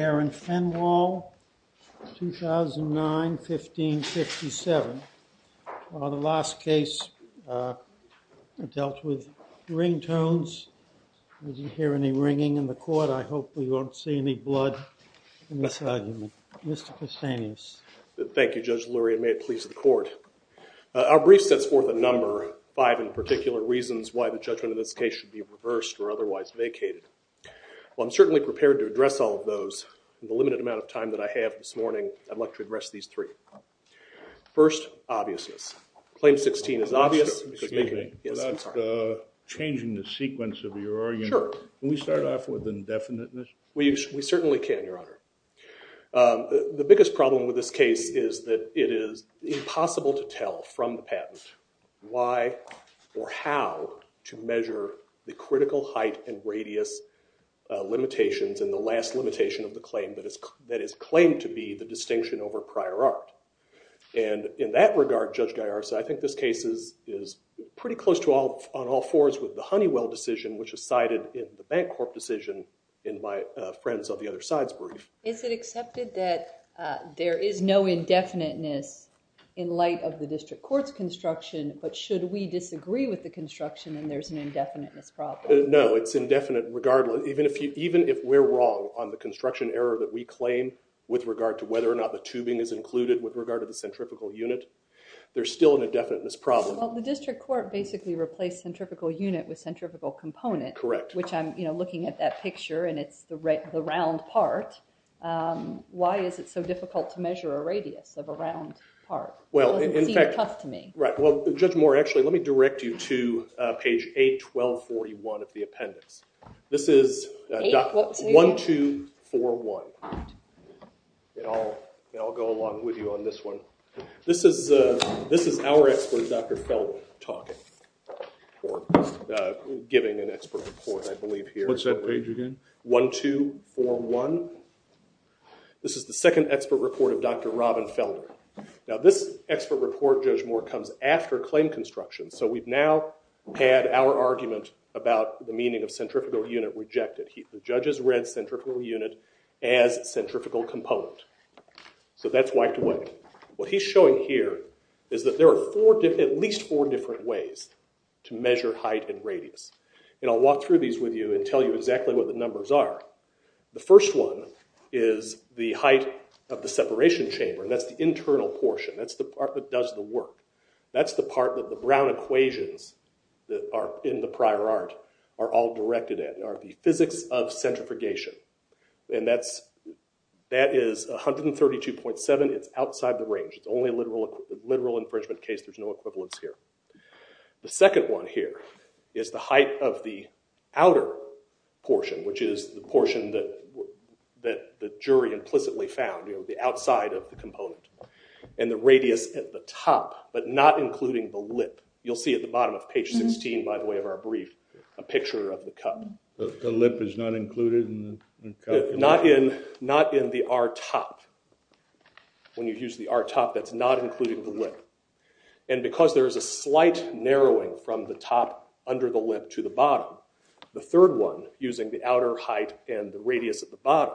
and Fenwall, 2009-1557. The last case dealt with ringtones. I hope we don't see any blood in this argument. Mr. Castanhas. Thank you, Judge Lurie, and may it please the court. Our brief sets forth a number, five in particular reasons why the judgment of this case should be reversed or otherwise vacated. Well, I'm certainly prepared to address all of those. In the limited amount of time that I have this morning, I'd like to address these three. First, obviousness. Claim 16 is obvious. Without changing the sequence of your argument, can we start off with indefiniteness? We certainly can, Your Honor. The biggest problem with this case is that it is impossible to tell from the patent why or how to measure the critical height and radius limitations and the last limitation of the claim that is claimed to be the distinction over prior art. And in that regard, Judge Gallarza, I think this case is pretty close on all fours with the Honeywell decision, which is cited in the Bancorp decision in my Friends of the Other Sides brief. Is it accepted that there is no indefiniteness in light of the district court's construction, but should we disagree with the construction and there's an indefiniteness problem? No, it's indefinite regardless. Even if we're wrong on the construction error that we claim with regard to whether or not the tubing is included with regard to the centripetal unit, there's still an indefiniteness problem. Well, the district court basically replaced centripetal unit with centripetal component, which I'm looking at that picture and it's the round part. Why is it so difficult to measure a radius of a round part? It doesn't seem tough to me. Right. Well, Judge Moore, actually, let me direct you to page 8-1241 of the appendix. This is 1-2-4-1. I'll go along with you on this one. This is our expert, Dr. Felder, talking or giving an expert report, I believe, here. What's that page again? 1-2-4-1. This is the second expert report of Dr. Robin Felder. Now, this expert report, Judge Moore, comes after claim construction, so we've now had our argument about the meaning of centripetal unit rejected. The judge has read centripetal unit as centripetal component, so that's wiped away. What he's showing here is that there are at least four different ways to measure height and radius. I'll walk through these with you and tell you exactly what the numbers are. The first one is the height of the separation chamber. That's the internal portion. That's the part that does the work. That's the part that the brown equations that are in the prior art are all directed at, are the physics of centrifugation. That is 132.7. It's outside the range. It's only a literal infringement case. There's no equivalence here. The second one here is the height of the outer portion, which is the portion that the jury implicitly found, the outside of the component. The radius at the top, but not including the lip. You'll see at the bottom of page 16, by the way, of our brief, a picture of the cup. The lip is not included in the cup? Not in the R-top. When you use the R-top, that's not including the lip. And because there is a slight narrowing from the top under the lip to the bottom, the third one, using the outer height and the radius at the bottom,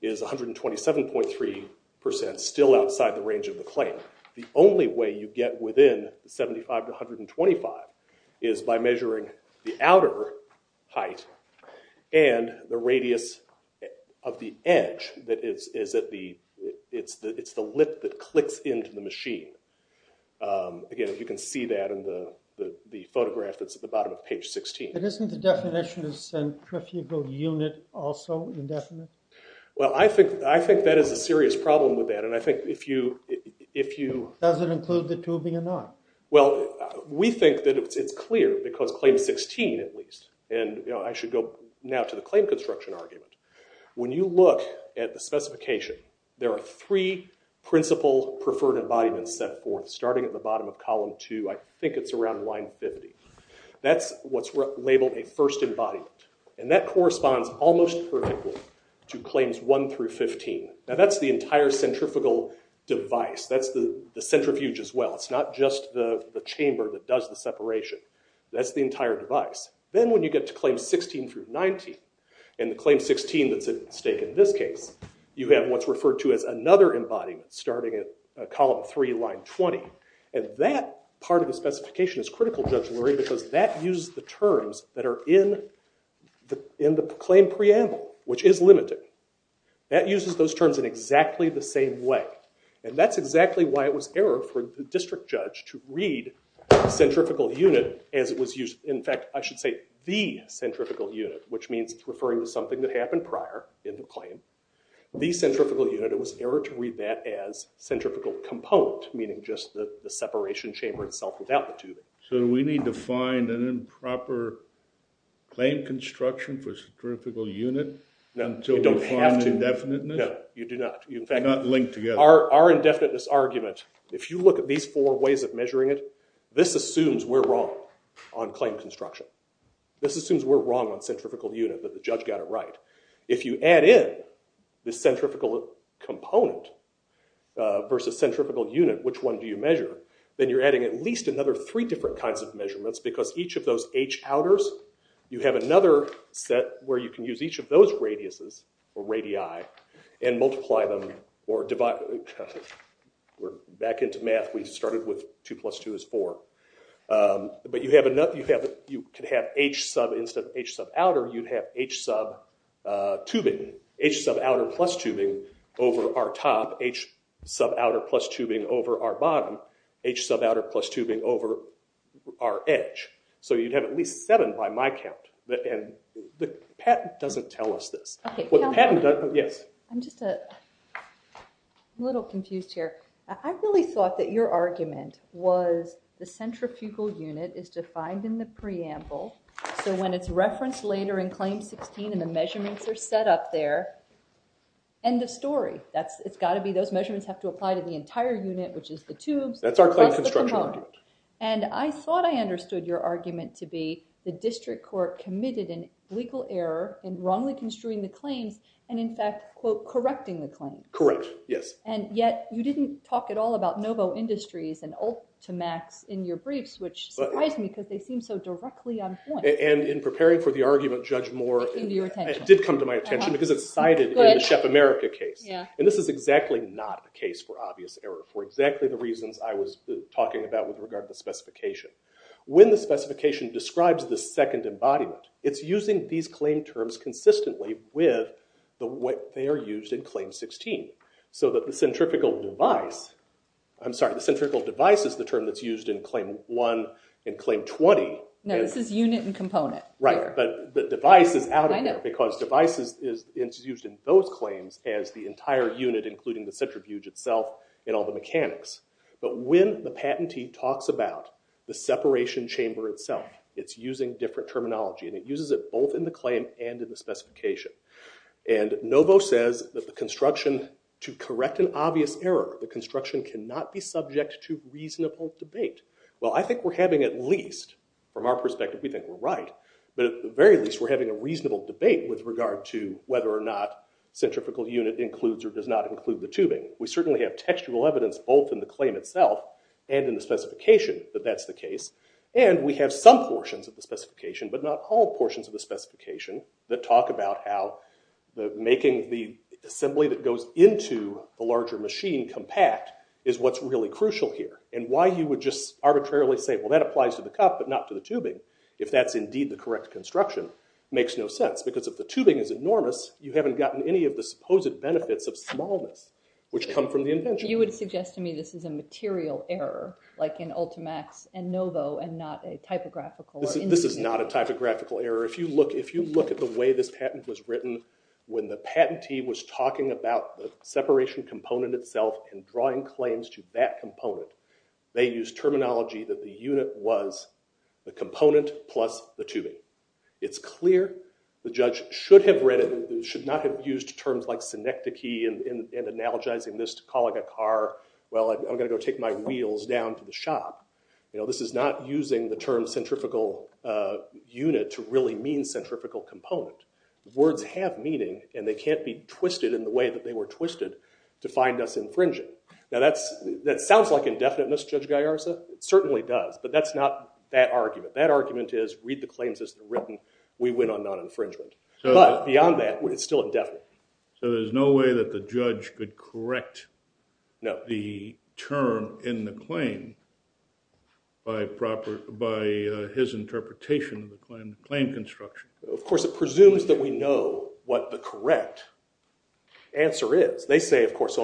is 127.3%, still outside the range of the claim. The only way you get within 75 to 125 is by measuring the outer height and the radius of the edge. It's the lip that clicks into the machine. Again, you can see that in the photograph that's at the bottom of page 16. Isn't the definition of centrifugal unit also indefinite? Well, I think that is a serious problem with that. Does it include the tubing or not? Well, we think that it's clear, because claim 16, at least, and I should go now to the claim construction argument. When you look at the specification, there are three principal preferred embodiments set forth, starting at the bottom of column 2. I think it's around line 50. That's what's labeled a first embodiment. And that corresponds almost perfectly to claims 1 through 15. Now, that's the entire centrifugal device. That's the centrifuge as well. It's not just the chamber that does the separation. That's the entire device. Then when you get to claims 16 through 19, and the claim 16 that's at stake in this case, you have what's referred to as another embodiment, starting at column 3, line 20. And that part of the specification is critical, Judge Lurie, because that uses the terms that are in the claim preamble, which is limited. That uses those terms in exactly the same way. And that's exactly why it was error for the district judge to read centrifugal unit as it was used. In fact, I should say the centrifugal unit, which means referring to something that happened prior in the claim. The centrifugal unit, it was error to read that as centrifugal component, meaning just the separation chamber itself without the tubing. So do we need to find an improper claim construction for centrifugal unit until we find indefiniteness? No, you do not. You do not link together. Our indefiniteness argument, if you look at these four ways of measuring it, this assumes we're wrong on claim construction. This assumes we're wrong on centrifugal unit, but the judge got it right. If you add in the centrifugal component versus centrifugal unit, which one do you measure? Then you're adding at least another three different kinds of measurements, because each of those H outers, you have another set where you can use each of those radiuses, or radii, and multiply them or divide. We're back into math. We started with 2 plus 2 is 4. But you could have H sub, instead of H sub outer, you'd have H sub tubing, H sub outer plus tubing over our top, H sub outer plus tubing over our bottom, H sub outer plus tubing over our edge. So you'd have at least seven by my count, and the patent doesn't tell us this. I'm just a little confused here. I really thought that your argument was the centrifugal unit is defined in the preamble, so when it's referenced later in Claim 16 and the measurements are set up there, end of story. It's got to be those measurements have to apply to the entire unit, which is the tubes. That's our claim construction argument. And I thought I understood your argument to be the district court committed an illegal error in wrongly construing the claims, and in fact, quote, correcting the claims. Correct, yes. And yet you didn't talk at all about Novo Industries and Ultimax in your briefs, which surprised me because they seem so directly on point. And in preparing for the argument, Judge Moore, it did come to my attention because it's cited in the Shep America case. And this is exactly not a case for obvious error for exactly the reasons I was talking about with regard to the specification. When the specification describes the second embodiment, it's using these claim terms consistently with what they are used in Claim 16. So that the centrifugal device, I'm sorry, the centrifugal device is the term that's used in Claim 1 and Claim 20. No, this is unit and component. Right, but the device is out of there because device is used in those claims as the entire unit, including the centrifuge itself and all the mechanics. But when the patentee talks about the separation chamber itself, it's using different terminology and it uses it both in the claim and in the specification. And Novo says that the construction to correct an obvious error, the construction cannot be subject to reasonable debate. Well, I think we're having at least, from our perspective, we think we're right. But at the very least we're having a reasonable debate with regard to whether or not centrifugal unit includes or does not include the tubing. We certainly have textual evidence both in the claim itself and in the specification that that's the case. And we have some portions of the specification, but not all portions of the specification, that talk about how making the assembly that goes into a larger machine compact is what's really crucial here. And why you would just arbitrarily say, well, that applies to the cup, but not to the tubing, if that's indeed the correct construction, makes no sense. Because if the tubing is enormous, you haven't gotten any of the supposed benefits of smallness, which come from the invention. You would suggest to me this is a material error, like in Ultimax and Novo, and not a typographical. This is not a typographical error. If you look at the way this patent was written, when the patentee was talking about the separation component itself and drawing claims to that component, they used terminology that the unit was the component plus the tubing. It's clear the judge should not have used terms like synecdoche and analogizing this to calling a car, well, I'm going to go take my wheels down to the shop. This is not using the term centrifugal unit to really mean centrifugal component. Words have meaning, and they can't be twisted in the way that they were twisted to find us infringing. Now, that sounds like indefiniteness, Judge Gallarza. It certainly does. But that's not that argument. That argument is, read the claims as they're written. We went on non-infringement. But beyond that, it's still indefinite. So there's no way that the judge could correct the term in the claim by his interpretation of the claim construction? Of course, it presumes that we know what the correct answer is. They say, of course,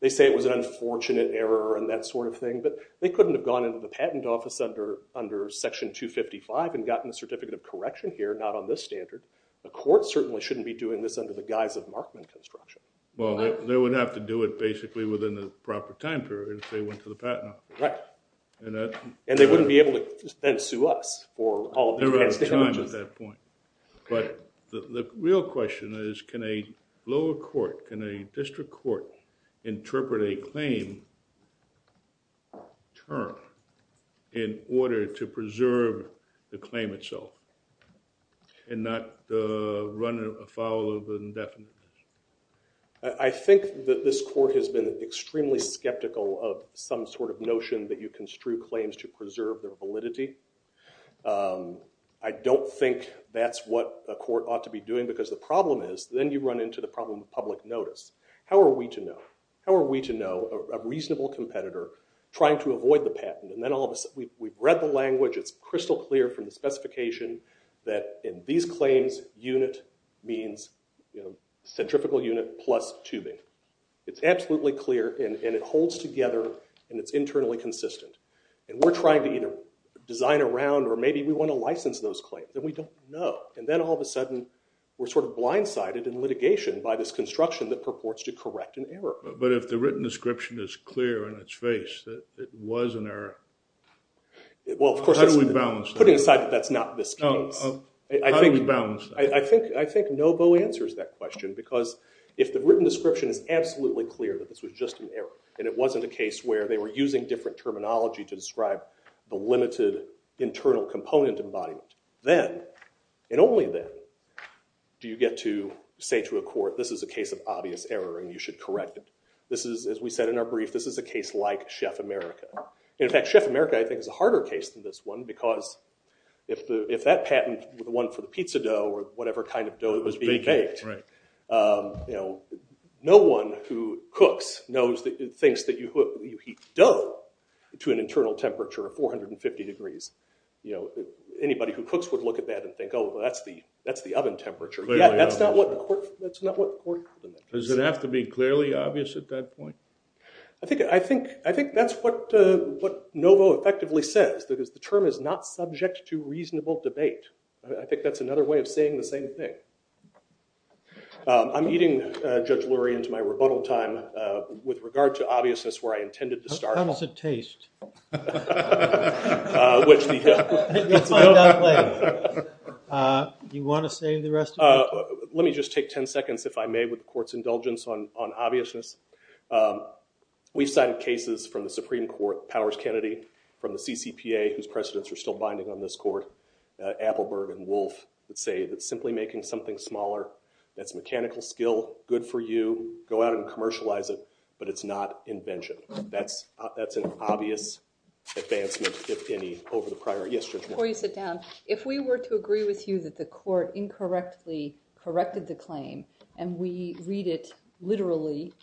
they say it was an unfortunate error and that sort of thing. But they couldn't have gone into the patent office under Section 255 and gotten a certificate of correction here, not on this standard. The court certainly shouldn't be doing this under the guise of Markman construction. Well, they would have to do it basically within the proper time period if they went to the patent office. Right. And they wouldn't be able to then sue us for all of these patent damages. But the real question is, can a lower court, can a district court interpret a claim term in order to preserve the claim itself and not run afoul of the indefiniteness? I think that this court has been extremely skeptical of some sort of notion that you construe claims to preserve their validity. I don't think that's what a court ought to be doing because the problem is then you run into the problem of public notice. How are we to know? How are we to know a reasonable competitor trying to avoid the patent? And then all of a sudden, we've read the language. It's crystal clear from the specification that in these claims, unit means centrifugal unit plus tubing. It's absolutely clear, and it holds together, and it's internally consistent. And we're trying to either design around or maybe we want to license those claims, and we don't know. And then all of a sudden, we're sort of blindsided in litigation by this construction that purports to correct an error. But if the written description is clear in its face that it was an error, how do we balance that? Well, of course, putting aside that that's not this case. How do we balance that? I think Nobo answers that question because if the written description is absolutely clear that this was just an error and it wasn't a case where they were using different terminology to describe the limited internal component embodiment, then and only then do you get to say to a court, this is a case of obvious error, and you should correct it. This is, as we said in our brief, this is a case like Chef America. In fact, Chef America, I think, is a harder case than this one because if that patent, the one for the pizza dough or whatever kind of dough that was being baked, no one who cooks thinks that you heat dough to an internal temperature of 450 degrees. Anybody who cooks would look at that and think, oh, well, that's the oven temperature. Yeah, that's not what the court recommends. Does it have to be clearly obvious at that point? I think that's what Nobo effectively says because the term is not subject to reasonable debate. I think that's another way of saying the same thing. I'm eating Judge Lurie into my rebuttal time with regard to obviousness where I intended to start. How does it taste? Which the- You'll find out later. Do you want to say the rest of it? Let me just take 10 seconds, if I may, with the court's indulgence on obviousness. We've cited cases from the Supreme Court, Powers-Kennedy, from the CCPA, whose precedents are still binding on this court. Appelberg and Wolf would say that simply making something smaller that's mechanical skill, good for you. Go out and commercialize it, but it's not invention. That's an obvious advancement, if any, over the prior. Yes, Judge Moore. Before you sit down, if we were to agree with you that the court incorrectly corrected the claim and we read it literally,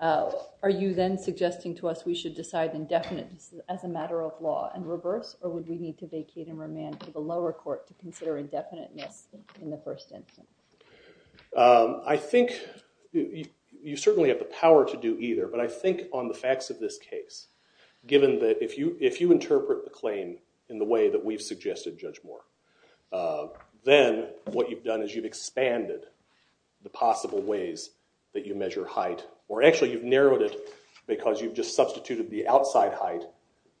are you then suggesting to us we should decide indefiniteness as a matter of law and reverse, or would we need to vacate and remand to the lower court to consider indefiniteness in the first instance? I think you certainly have the power to do either, but I think on the facts of this case, given that if you interpret the claim in the way that we've suggested, Judge Moore, then what you've done is you've expanded the possible ways that you measure height, or actually you've narrowed it because you've just substituted the outside height,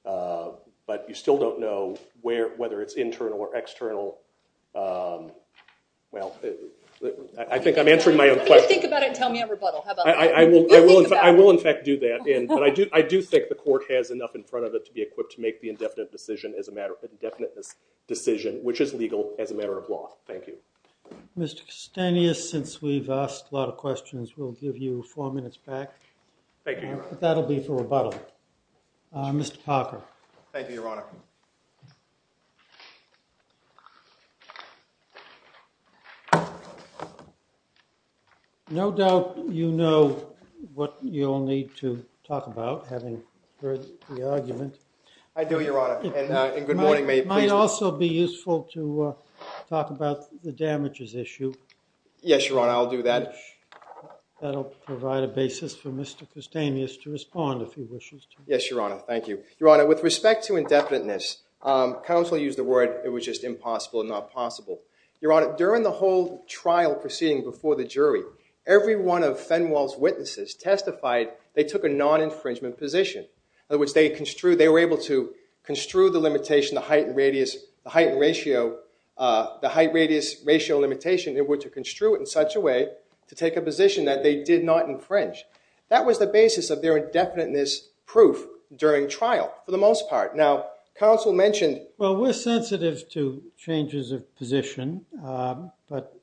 but you still don't know whether it's internal or external. Well, I think I'm answering my own question. Think about it and tell me a rebuttal. I will, in fact, do that, and I do think the court has enough in front of it to be equipped to make the indefinite decision as a matter of indefiniteness decision, which is legal as a matter of law. Thank you. Mr. Kostenius, since we've asked a lot of questions, we'll give you four minutes back. Thank you, Your Honor. That'll be for rebuttal. Mr. Parker. Thank you, Your Honor. No doubt you know what you'll need to talk about, having heard the argument. I do, Your Honor, and good morning. It might also be useful to talk about the damages issue. Yes, Your Honor. I'll do that. That'll provide a basis for Mr. Kostenius to respond, if he wishes to. Yes, Your Honor. Thank you. Your Honor, with respect to indefinite decision, counsel used the word, it was just impossible, not possible. Your Honor, during the whole trial proceeding before the jury, every one of Fenwell's witnesses testified they took a non-infringement position. In other words, they were able to construe the limitation, the height and radius, the height and ratio, the height, radius, ratio limitation. They were to construe it in such a way to take a position that they did not infringe. That was the basis of their indefiniteness proof during trial, for the most part. Now, counsel mentioned… Well, we're sensitive to changes of position, but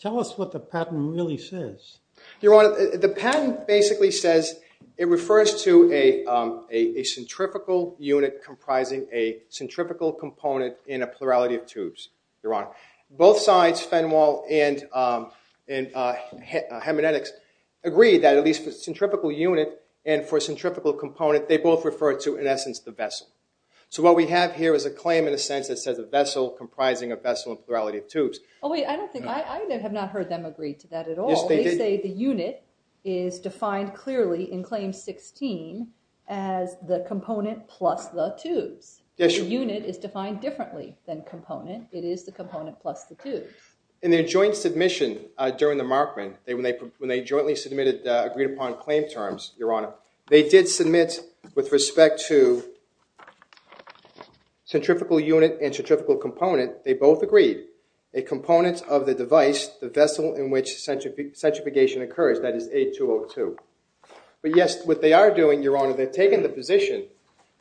tell us what the patent really says. Your Honor, the patent basically says it refers to a centrifugal unit comprising a centrifugal component in a plurality of tubes, Your Honor. Both sides, Fenwell and Hemenetics, agreed that at least for a centrifugal unit and for a centrifugal component, they both refer to, in essence, the vessel. So what we have here is a claim, in a sense, that says a vessel comprising a vessel in a plurality of tubes. I have not heard them agree to that at all. They say the unit is defined clearly in Claim 16 as the component plus the tubes. The unit is defined differently than component. It is the component plus the tubes. In their joint submission during the Markman, when they jointly submitted agreed-upon claim terms, Your Honor, they did submit with respect to centrifugal unit and centrifugal component, they both agreed a component of the device, the vessel in which centrifugation occurs, that is A202. But yes, what they are doing, Your Honor, they're taking the position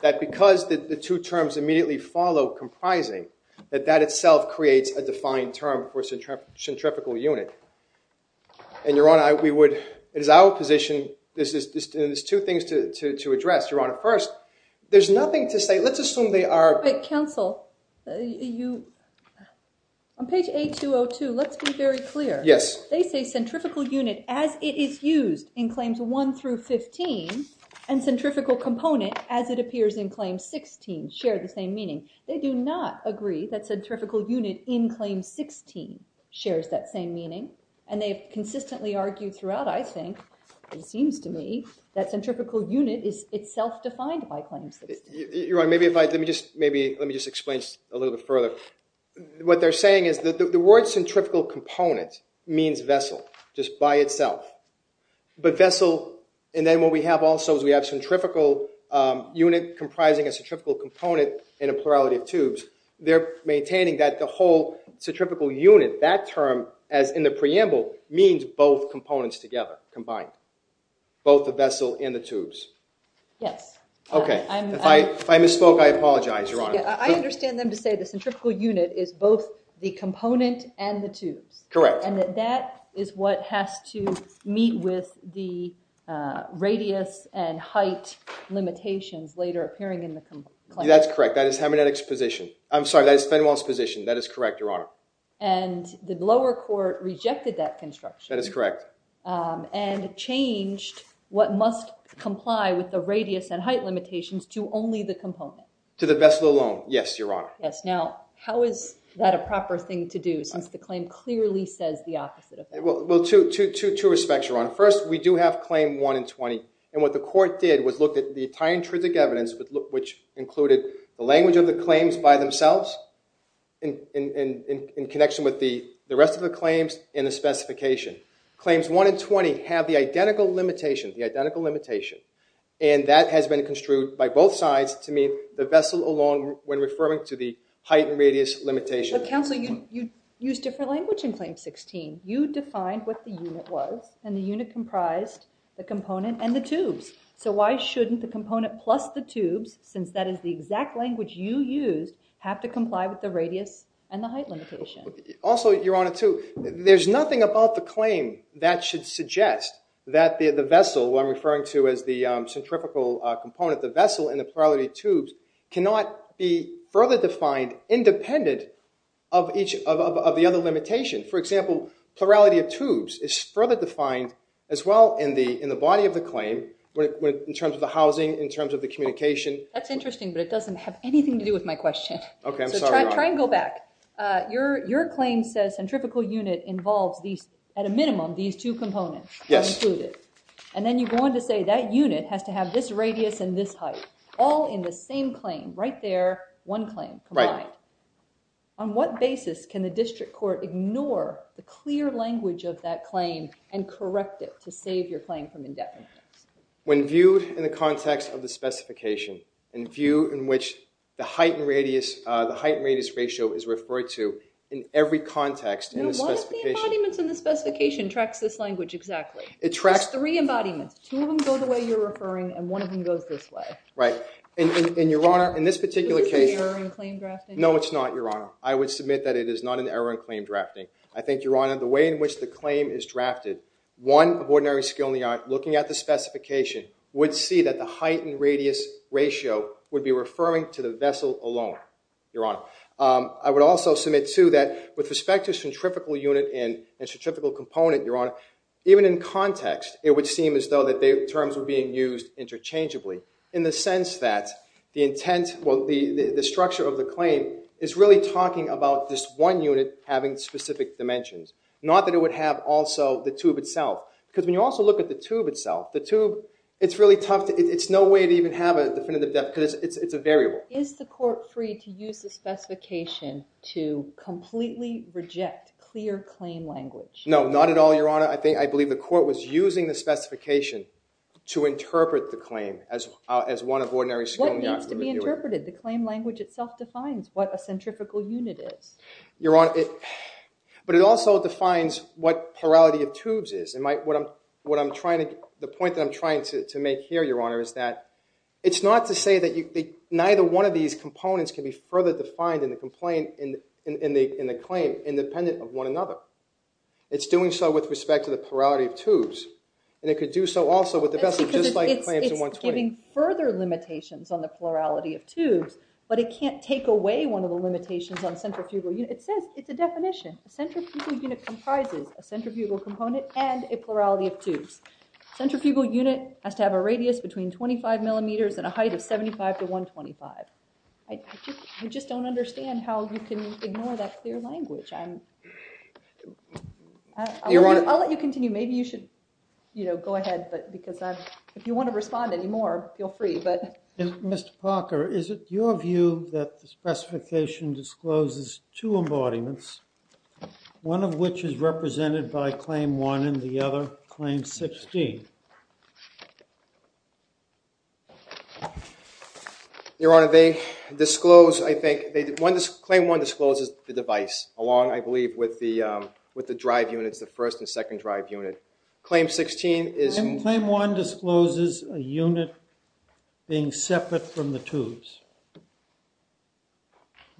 that because the two terms immediately follow comprising, that that itself creates a defined term for centrifugal unit. And, Your Honor, we would, it is our position, there's two things to address, Your Honor. First, there's nothing to say, let's assume they are. But, counsel, you, on page A202, let's be very clear. Yes. They say centrifugal unit as it is used in Claims 1 through 15 and centrifugal component as it appears in Claim 16 share the same meaning. They do not agree that centrifugal unit in Claim 16 shares that same meaning. And they have consistently argued throughout, I think, it seems to me, that centrifugal unit is itself defined by Claim 16. Your Honor, maybe if I, let me just, maybe, let me just explain a little bit further. What they're saying is that the word centrifugal component means vessel, just by itself. But vessel, and then what we have also is we have centrifugal unit comprising a centrifugal component in a plurality of tubes. They're maintaining that the whole centrifugal unit, that term, as in the preamble, means both components together, combined, both the vessel and the tubes. Yes. Okay. If I misspoke, I apologize, Your Honor. I understand them to say the centrifugal unit is both the component and the tubes. Correct. And that that is what has to meet with the radius and height limitations later appearing in the claim. That's correct. That is Fenwell's position. That is correct, Your Honor. And the lower court rejected that construction. That is correct. And changed what must comply with the radius and height limitations to only the component. To the vessel alone. Yes, Your Honor. Yes, now how is that a proper thing to do since the claim clearly says the opposite of that? Well, two respects, Your Honor. First, we do have Claim 1 and 20. And what the court did was look at the entire intrinsic evidence, which included the language of the claims by themselves in connection with the rest of the claims and the specification. Claims 1 and 20 have the identical limitation, the identical limitation. And that has been construed by both sides to mean the vessel alone when referring to the height and radius limitation. But, counsel, you used different language in Claim 16. You defined what the unit was, and the unit comprised the component and the tubes. So why shouldn't the component plus the tubes, since that is the exact language you used, have to comply with the radius and the height limitation? Also, Your Honor, too, there's nothing about the claim that should suggest that the vessel, what I'm referring to as the centrifugal component, the vessel and the plurality of tubes cannot be further defined independent of the other limitation. For example, plurality of tubes is further defined as well in the body of the claim in terms of the housing, in terms of the communication. That's interesting, but it doesn't have anything to do with my question. Okay, I'm sorry, Your Honor. So try and go back. Your claim says centrifugal unit involves at a minimum these two components included. Yes. And then you go on to say that unit has to have this radius and this height, all in the same claim, right there, one claim combined. Right. On what basis can the district court ignore the clear language of that claim and correct it to save your claim from indebtedness? When viewed in the context of the specification, in view in which the height and radius ratio is referred to in every context in the specification. And what if the embodiment in the specification tracks this language exactly? There's three embodiments. Two of them go the way you're referring, and one of them goes this way. Right. And, Your Honor, in this particular case- Is this an error in claim drafting? No, it's not, Your Honor. I would submit that it is not an error in claim drafting. I think, Your Honor, the way in which the claim is drafted, one of ordinary skill in the art, looking at the specification, would see that the height and radius ratio would be referring to the vessel alone, Your Honor. I would also submit, too, that with respect to centrifugal unit and context, it would seem as though the terms were being used interchangeably in the sense that the intent, well, the structure of the claim is really talking about this one unit having specific dimensions, not that it would have also the tube itself. Because when you also look at the tube itself, the tube, it's really tough to- it's no way to even have a definitive depth because it's a variable. Is the court free to use the specification to completely reject clear claim language? No, not at all, Your Honor. I believe the court was using the specification to interpret the claim as one of ordinary skill in the art. What needs to be interpreted? The claim language itself defines what a centrifugal unit is. Your Honor, but it also defines what plurality of tubes is. The point that I'm trying to make here, Your Honor, is that it's not to say that neither one of these components can be further defined in the claim independent of one another. It's doing so with respect to the plurality of tubes, and it could do so also with the best of dislike claims in 120. It's giving further limitations on the plurality of tubes, but it can't take away one of the limitations on centrifugal units. It says it's a definition. A centrifugal unit comprises a centrifugal component and a plurality of tubes. A centrifugal unit has to have a radius between 25 millimeters and a height of 75 to 125. I just don't understand how you can ignore that clear language. I'll let you continue. Maybe you should go ahead, because if you want to respond anymore, feel free. Mr. Parker, is it your view that the specification discloses two embodiments, one of which is represented by Claim 1 and the other Claim 16? Your Honor, Claim 1 discloses the device, along, I believe, with the drive units, the first and second drive unit. Claim 1 discloses a unit being separate from the tubes.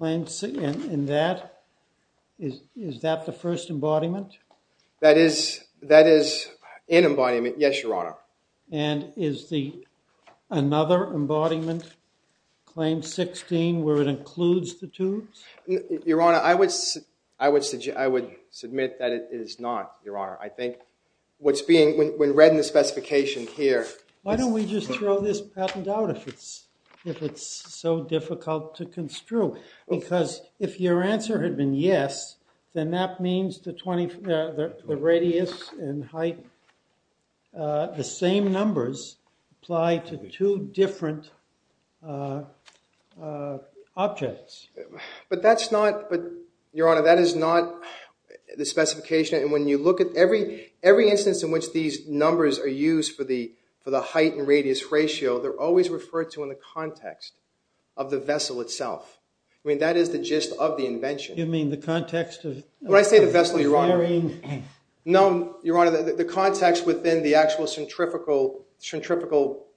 Is that the first embodiment? That is an embodiment, yes, Your Honor. And is the another embodiment, Claim 16, where it includes the tubes? Your Honor, I would submit that it is not, Your Honor. I think what's being, when read in the specification here... Why don't we just throw this patent out, if it's so difficult to construe? Because if your answer had been yes, then that means the radius and height, the same numbers apply to two different objects. But that's not, Your Honor, that is not the specification. And when you look at every instance in which these numbers are used for the height and radius ratio, they're always referred to in the context of the vessel itself. I mean, that is the gist of the invention. You mean the context of... When I say the vessel, Your Honor... No, Your Honor, the context within the actual centrifugal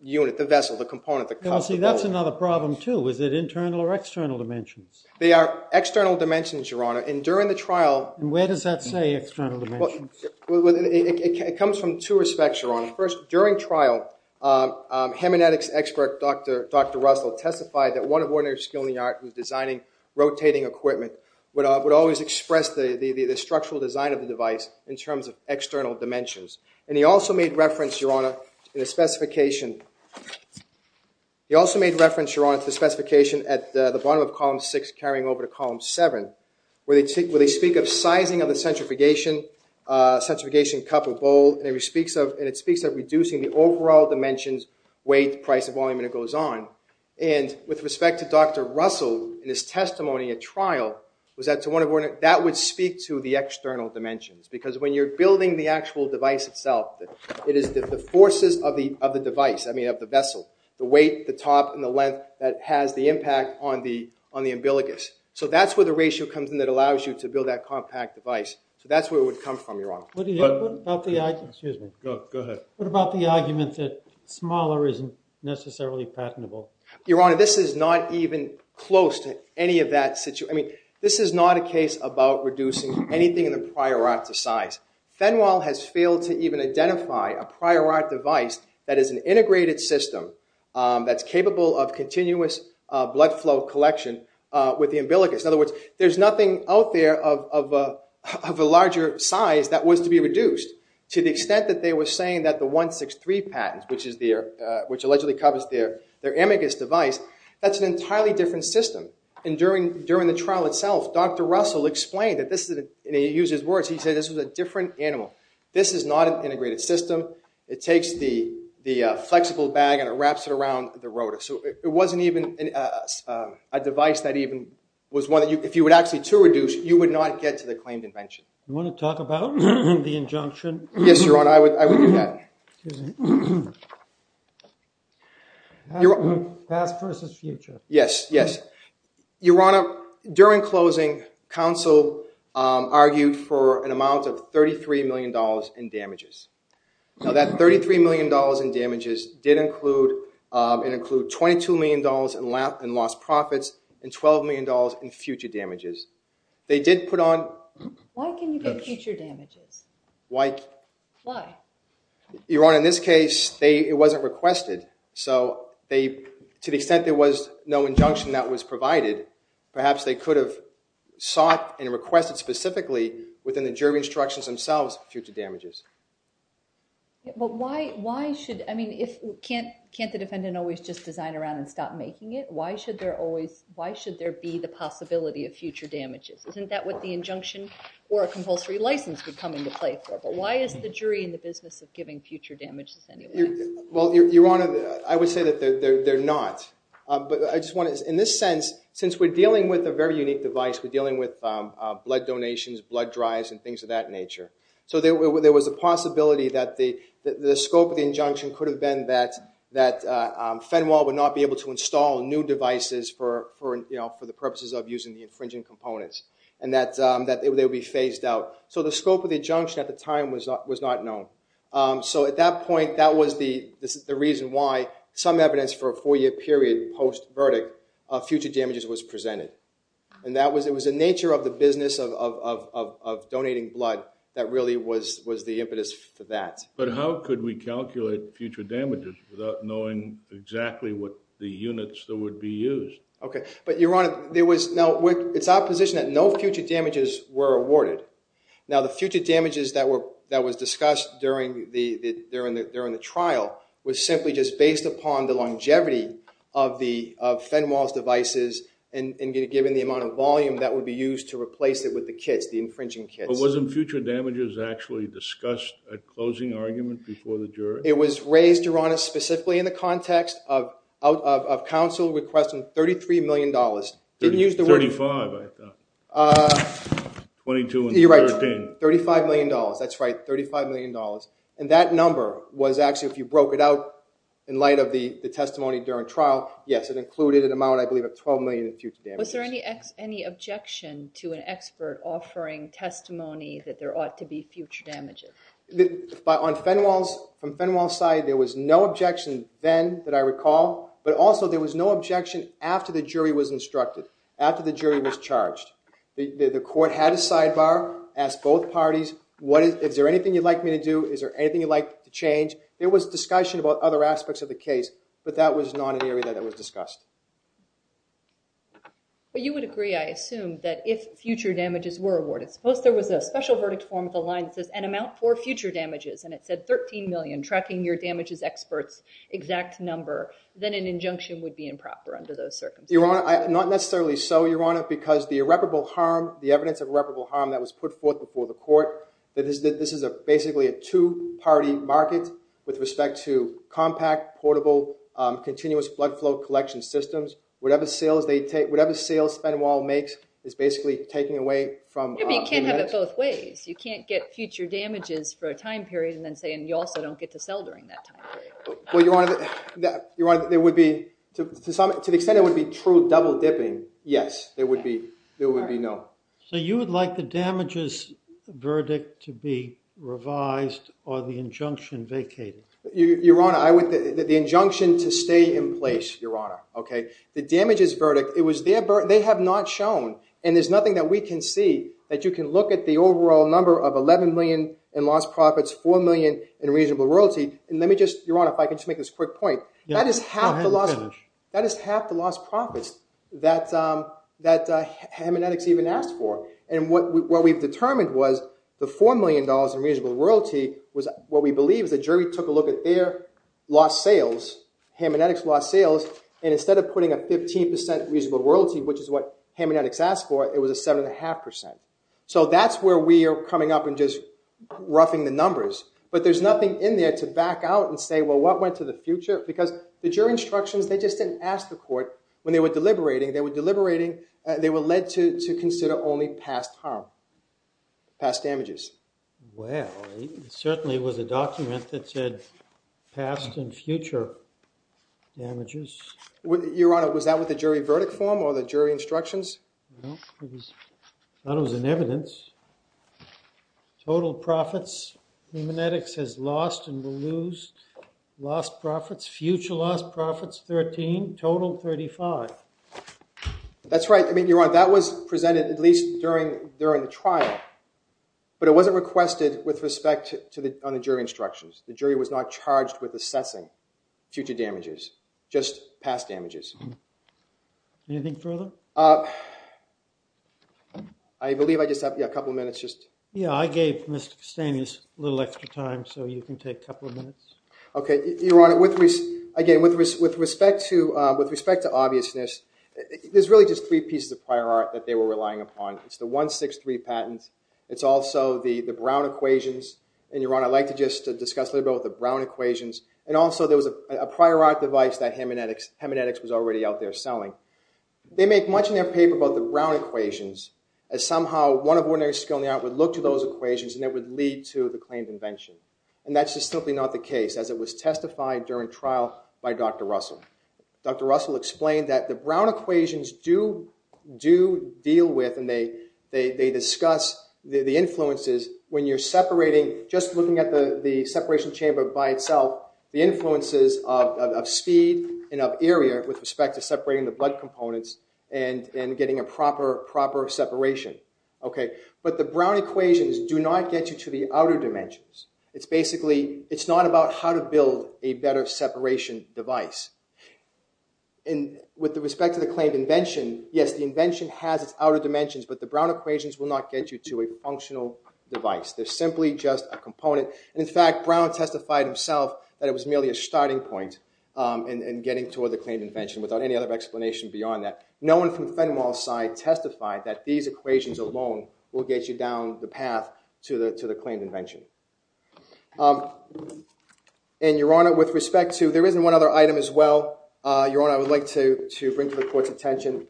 unit, the vessel, the component, the cup, the bowl. Well, see, that's another problem, too. Is it internal or external dimensions? They are external dimensions, Your Honor. And during the trial... And where does that say external dimensions? It comes from two respects, Your Honor. First, during trial, hemanetics expert Dr. Russell testified that one of ordinary skill in the art was designing rotating equipment would always express the structural design of the device in terms of external dimensions. And he also made reference, Your Honor, to the specification at the bottom of column 6 carrying over to column 7 where they speak of sizing of the centrifugation cup or bowl, and it speaks of reducing the overall dimensions, weight, price, volume, and it goes on. And with respect to Dr. Russell and his testimony at trial, that would speak to the external dimensions because when you're building the actual device itself, it is the forces of the device, I mean of the vessel, the weight, the top, and the length that has the impact on the umbilicus. So that's where the ratio comes in that allows you to build that compact device. So that's where it would come from, Your Honor. Excuse me. Go ahead. What about the argument that smaller isn't necessarily patentable? Your Honor, this is not even close to any of that situation. I mean, this is not a case about reducing anything in the prior art to size. Fenwell has failed to even identify a prior art device that is an integrated system that's capable of continuous blood flow collection with the umbilicus. In other words, there's nothing out there of a larger size that was to be reduced to the extent that they were saying that the 163 patent, which allegedly covers their umbilicus device, that's an entirely different system. And during the trial itself, Dr. Russell explained, and he used his words, he said this was a different animal. This is not an integrated system. It takes the flexible bag and it wraps it around the rotor. So it wasn't even a device that even was one that if you were actually to reduce, you would not get to the claimed invention. You want to talk about the injunction? Yes, Your Honor, I would do that. Past versus future. Yes, yes. Your Honor, during closing, counsel argued for an amount of $33 million in damages. Now that $33 million in damages did include $22 million in lost profits and $12 million in future damages. They did put on... Why can you get future damages? Why? Why? Your Honor, in this case, it wasn't requested. So to the extent there was no injunction that was provided, perhaps they could have sought and requested specifically within the jury instructions themselves future damages. But why should, I mean, can't the defendant always just design around and stop making it? Why should there be the possibility of future damages? Isn't that what the injunction or a compulsory license would come into play for? But why is the jury in the business of giving future damages anyway? Well, Your Honor, I would say that they're not. But I just want to, in this sense, since we're dealing with a very unique device, we're dealing with blood donations, blood drives, and things of that nature. So there was a possibility that the scope of the injunction could have been that Fenwell would not be able to install new devices for the purposes of using the infringing components and that they would be phased out. So the scope of the injunction at the time was not known. So at that point, that was the reason why some evidence for a four-year period post-verdict of future damages was presented. And it was the nature of the business of donating blood that really was the impetus for that. But how could we calculate future damages without knowing exactly what the units that would be used? Okay. But, Your Honor, there was... Now, it's our position that no future damages were awarded. Now, the future damages that was discussed during the trial was simply just based upon the longevity of Fenwell's devices and given the amount of volume that would be used to replace it with the kits, the infringing kits. But wasn't future damages actually discussed at closing argument before the jury? It was raised, Your Honor, specifically in the context of counsel requesting $33 million. Didn't use the word... Thirty-five, I thought. Twenty-two and thirteen. You're right. $35 million. That's right. $35 million. And that number was actually, if you broke it out in light of the testimony during trial, yes, it included an amount I believe of $12 million in future damages. Was there any objection to an expert offering testimony that there ought to be future damages? On Fenwell's side, there was no objection then that I recall, but also there was no objection after the jury was instructed, after the jury was charged. The court had a sidebar, asked both parties, is there anything you'd like me to do? Is there anything you'd like to change? There was discussion about other aspects of the case, but that was not an area that was discussed. But you would agree, I assume, that if future damages were awarded, suppose there was a special verdict form of the line that says, an amount for future damages, and it said $13 million, tracking your damages expert's exact number, then an injunction would be improper under those circumstances. Your Honor, not necessarily so, Your Honor, because the irreparable harm, the evidence of irreparable harm that was put forth before the court, that this is basically a two-party market with respect to compact, portable, continuous flood flow collection systems. Whatever sales spend wall makes is basically taking away from the next. You can't have it both ways. You can't get future damages for a time period and then say, and you also don't get to sell during that time period. Well, Your Honor, there would be, to the extent it would be true double dipping, yes. There would be no. So you would like the damages verdict to be revised or the injunction vacated? Your Honor, the injunction to stay in place, Your Honor. The damages verdict, they have not shown, and there's nothing that we can see that you can look at the overall number of $11 million in lost profits, $4 million in reasonable royalty, and let me just, Your Honor, if I could just make this quick point. Go ahead and finish. That is half the lost profits that Hammonetics even asked for. And what we've determined was the $4 million in reasonable royalty was what we believe is the jury took a look at their lost sales, Hammonetics lost sales, and instead of putting a 15% reasonable royalty, which is what Hammonetics asked for, it was a 7.5%. So that's where we are coming up and just roughing the numbers. But there's nothing in there to back out and say, well, what went to the future? Because the jury instructions, they just didn't ask the court when they were deliberating. They were deliberating. They were led to consider only past harm, past damages. Well, it certainly was a document that said past and future damages. Your Honor, was that with the jury verdict form or the jury instructions? No. I thought it was in evidence. Total profits, Hammonetics has lost and will lose lost profits. Future lost profits, 13. Total, 35. That's right. Your Honor, that was presented at least during the trial. But it wasn't requested with respect to the jury instructions. The jury was not charged with assessing future damages, just past damages. Anything further? I believe I just have a couple of minutes. Yeah, I gave Mr. Castanis a little extra time, so you can take a couple of minutes. OK. Your Honor, again, with respect to obviousness, there's really just three pieces of prior art that they were relying upon. It's the 163 patent. It's also the Brown Equations. And Your Honor, I'd like to just discuss a little bit about the Brown Equations. And also, there was a prior art device that Hammonetics was already out there selling. They make much in their paper about the Brown Equations as somehow one of ordinary skill in the art would look to those equations, and it would lead to the claimed invention. And that's just simply not the case, as it was testified during trial by Dr. Russell. Dr. Russell explained that the Brown Equations do deal with, and they discuss the influences when you're separating, just looking at the separation chamber by itself, the influences of speed and of area with respect to separating the blood components and getting a proper separation. But the Brown Equations do not get you to the outer dimensions. It's basically, it's not about how to build a better separation device. And with respect to the claimed invention, yes, the invention has its outer dimensions, but the Brown Equations will not get you to a functional device. They're simply just a component. And in fact, Brown testified himself that it was merely a starting point in getting toward the claimed invention without any other explanation beyond that. No one from Fenwell's side testified that these equations alone will get you down the path to the claimed invention. And Your Honor, with respect to, there isn't one other item as well, Your Honor, I would like to bring this to the court's attention.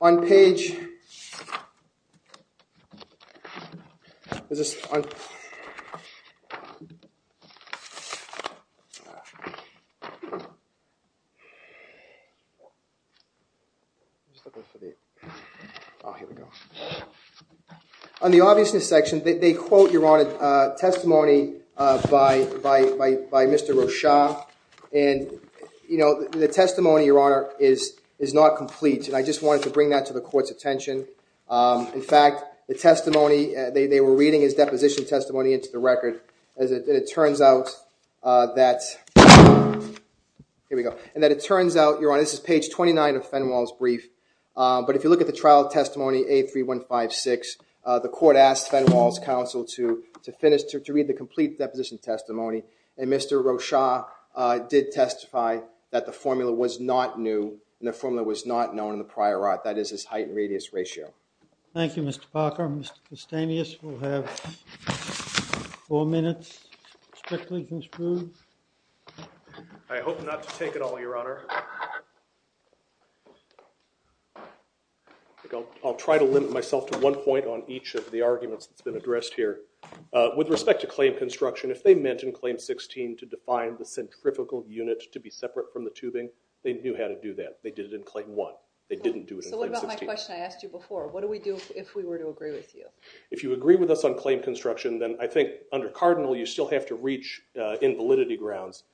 On page... On the obviousness section, they quote, Your Honor, testimony by Mr. Rochon. And the testimony, Your Honor, is not complete. And I just wanted to bring that to the court's attention. In fact, the testimony, they were reading his deposition testimony into the record. And it turns out that... Here we go. And that it turns out, Your Honor, this is page 29 of Fenwell's brief. But if you look at the trial testimony, A3156, the court asked Fenwell's counsel to finish, to read the complete deposition testimony. And Mr. Rochon did testify that the formula was not new, and the formula was not known in the prior art. That is his height and radius ratio. Thank you, Mr. Parker. Mr. Castaneous will have four minutes to strictly conclude. I hope not to take it all, Your Honor. I'll try to limit myself to one point on each of the arguments that's been addressed here. With respect to claim construction, if they meant in Claim 16 to define the centrifugal unit to be separate from the tubing, they knew how to do that. They did it in Claim 1. They didn't do it in Claim 16. So what about my question I asked you before? What do we do if we were to agree with you? If you agree with us on claim construction, then I think under Cardinal, you still have to reach invalidity grounds.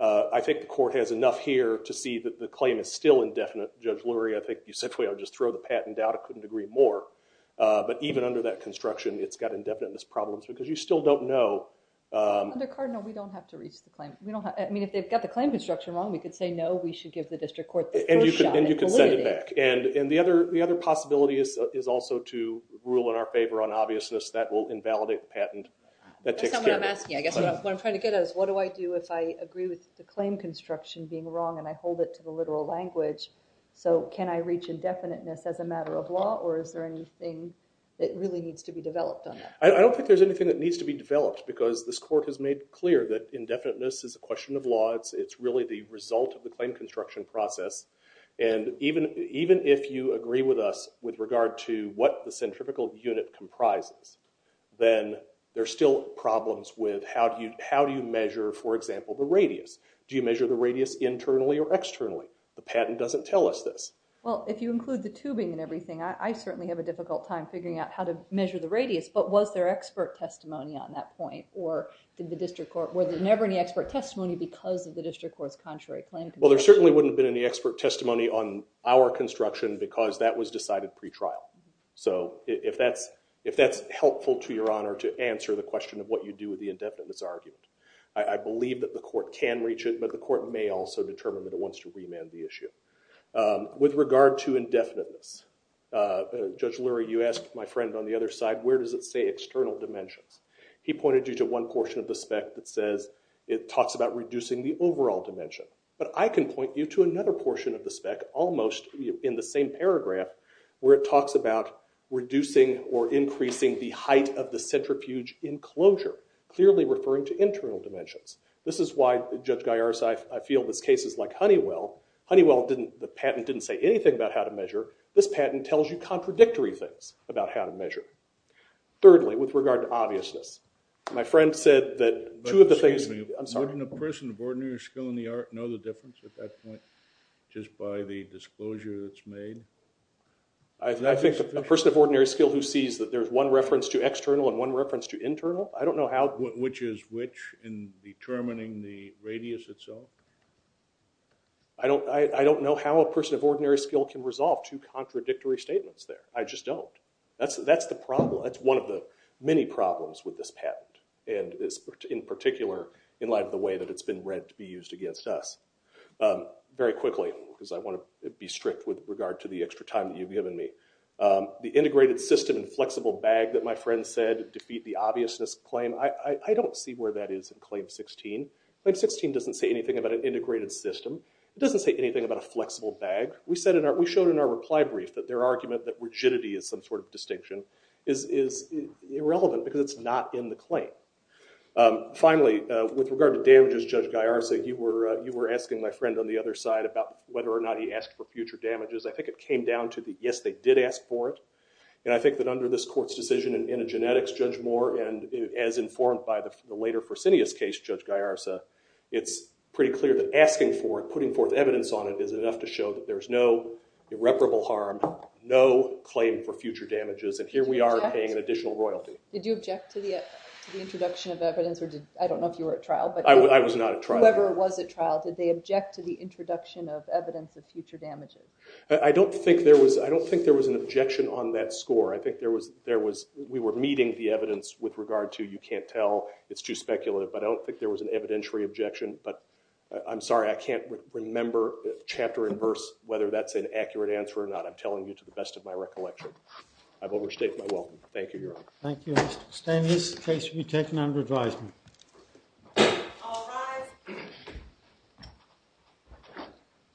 I think the court has enough here to see that the claim is still indefinite. Judge Lurie, I think you simply ought to just throw the patent out. I couldn't agree more. But even under that construction, it's got indefiniteness problems because you still don't know. Under Cardinal, we don't have to reach the claim. I mean, if they've got the claim construction wrong, we could say, no, we should give the district court the first shot at delimiting. And you could send it back. And the other possibility is also to rule in our favor on obviousness that will invalidate the patent. That's not what I'm asking. I guess what I'm trying to get at is what do I do if I agree with the claim construction being wrong and I hold it to the literal language? So can I reach indefiniteness as a matter of law or is there anything that really needs to be developed on that? I don't think there's anything that needs to be developed because this court has made clear that indefiniteness is a question of law. It's really the result of the claim construction process. And even if you agree with us with regard to what the centrifugal unit comprises, then there are still problems with how do you measure, for example, the radius? Do you measure the radius internally or externally? The patent doesn't tell us this. Well, if you include the tubing and everything, I certainly have a difficult time figuring out how to measure the radius. But was there expert testimony on that point? Or did the district court, were there never any expert testimony because of the district court's contrary claim construction? Well, there certainly wouldn't have been any expert testimony on our construction because that was decided pretrial. So if that's helpful to your honor to answer the question of what you do with the indefiniteness argument, I believe that the court can reach it. But the court may also determine that it wants to remand the issue. With regard to indefiniteness, Judge Lurie, you asked my friend on the other side where does it say external dimensions. He pointed you to one portion of the spec that says it talks about reducing the overall dimension. But I can point you to another portion of the spec, almost in the same paragraph, where it talks about reducing or increasing the height of the centrifuge enclosure, clearly referring to internal dimensions. This is why, Judge Galliaras, I feel this case is like Honeywell. Honeywell, the patent didn't say anything about how to measure. This patent tells you contradictory things about how to measure. Thirdly, with regard to obviousness, my friend said that two of the things. Excuse me, wouldn't a person of ordinary skill in the art know the difference at that point just by the disclosure that's made? I think a person of ordinary skill who sees that there's one reference to external and one reference to internal, I don't know how. Which is which in determining the radius itself? I don't know how a person of ordinary skill can resolve two contradictory statements there. I just don't. That's the problem. That's one of the many problems with this patent. And in particular, in light of the way that it's been read to be used against us. Very quickly, because I want to be strict with regard to the extra time that you've given me. The integrated system and flexible bag that my friend said defeat the obviousness claim, I don't see where that is in Claim 16. Claim 16 doesn't say anything about an integrated system. It doesn't say anything about a flexible bag. We showed in our reply brief that their argument that rigidity is some sort of distinction is irrelevant, because it's not in the claim. Finally, with regard to damages, Judge Gallarza, you were asking my friend on the other side about whether or not he asked for future damages. I think it came down to the yes, they did ask for it. And I think that under this court's decision in a genetics, Judge Moore, and as informed by the later Fresenius case, Judge Gallarza, it's pretty clear that asking for it, putting forth evidence on it, is enough to show that there's no irreparable harm, no claim for future damages. And here we are paying an additional royalty. Did you object to the introduction of evidence? I don't know if you were at trial. I was not at trial. Whoever was at trial, did they object to the introduction of evidence of future damages? I don't think there was an objection on that score. I think we were meeting the evidence with regard to you can't tell, it's too speculative. But I don't think there was an evidentiary objection. But I'm sorry. I can't remember, chapter and verse, whether that's an accurate answer or not. I'm telling you to the best of my recollection. I've overstated my welcome. Thank you, Your Honor. Thank you, Mr. Stanley. This case will be taken under advisement. All rise.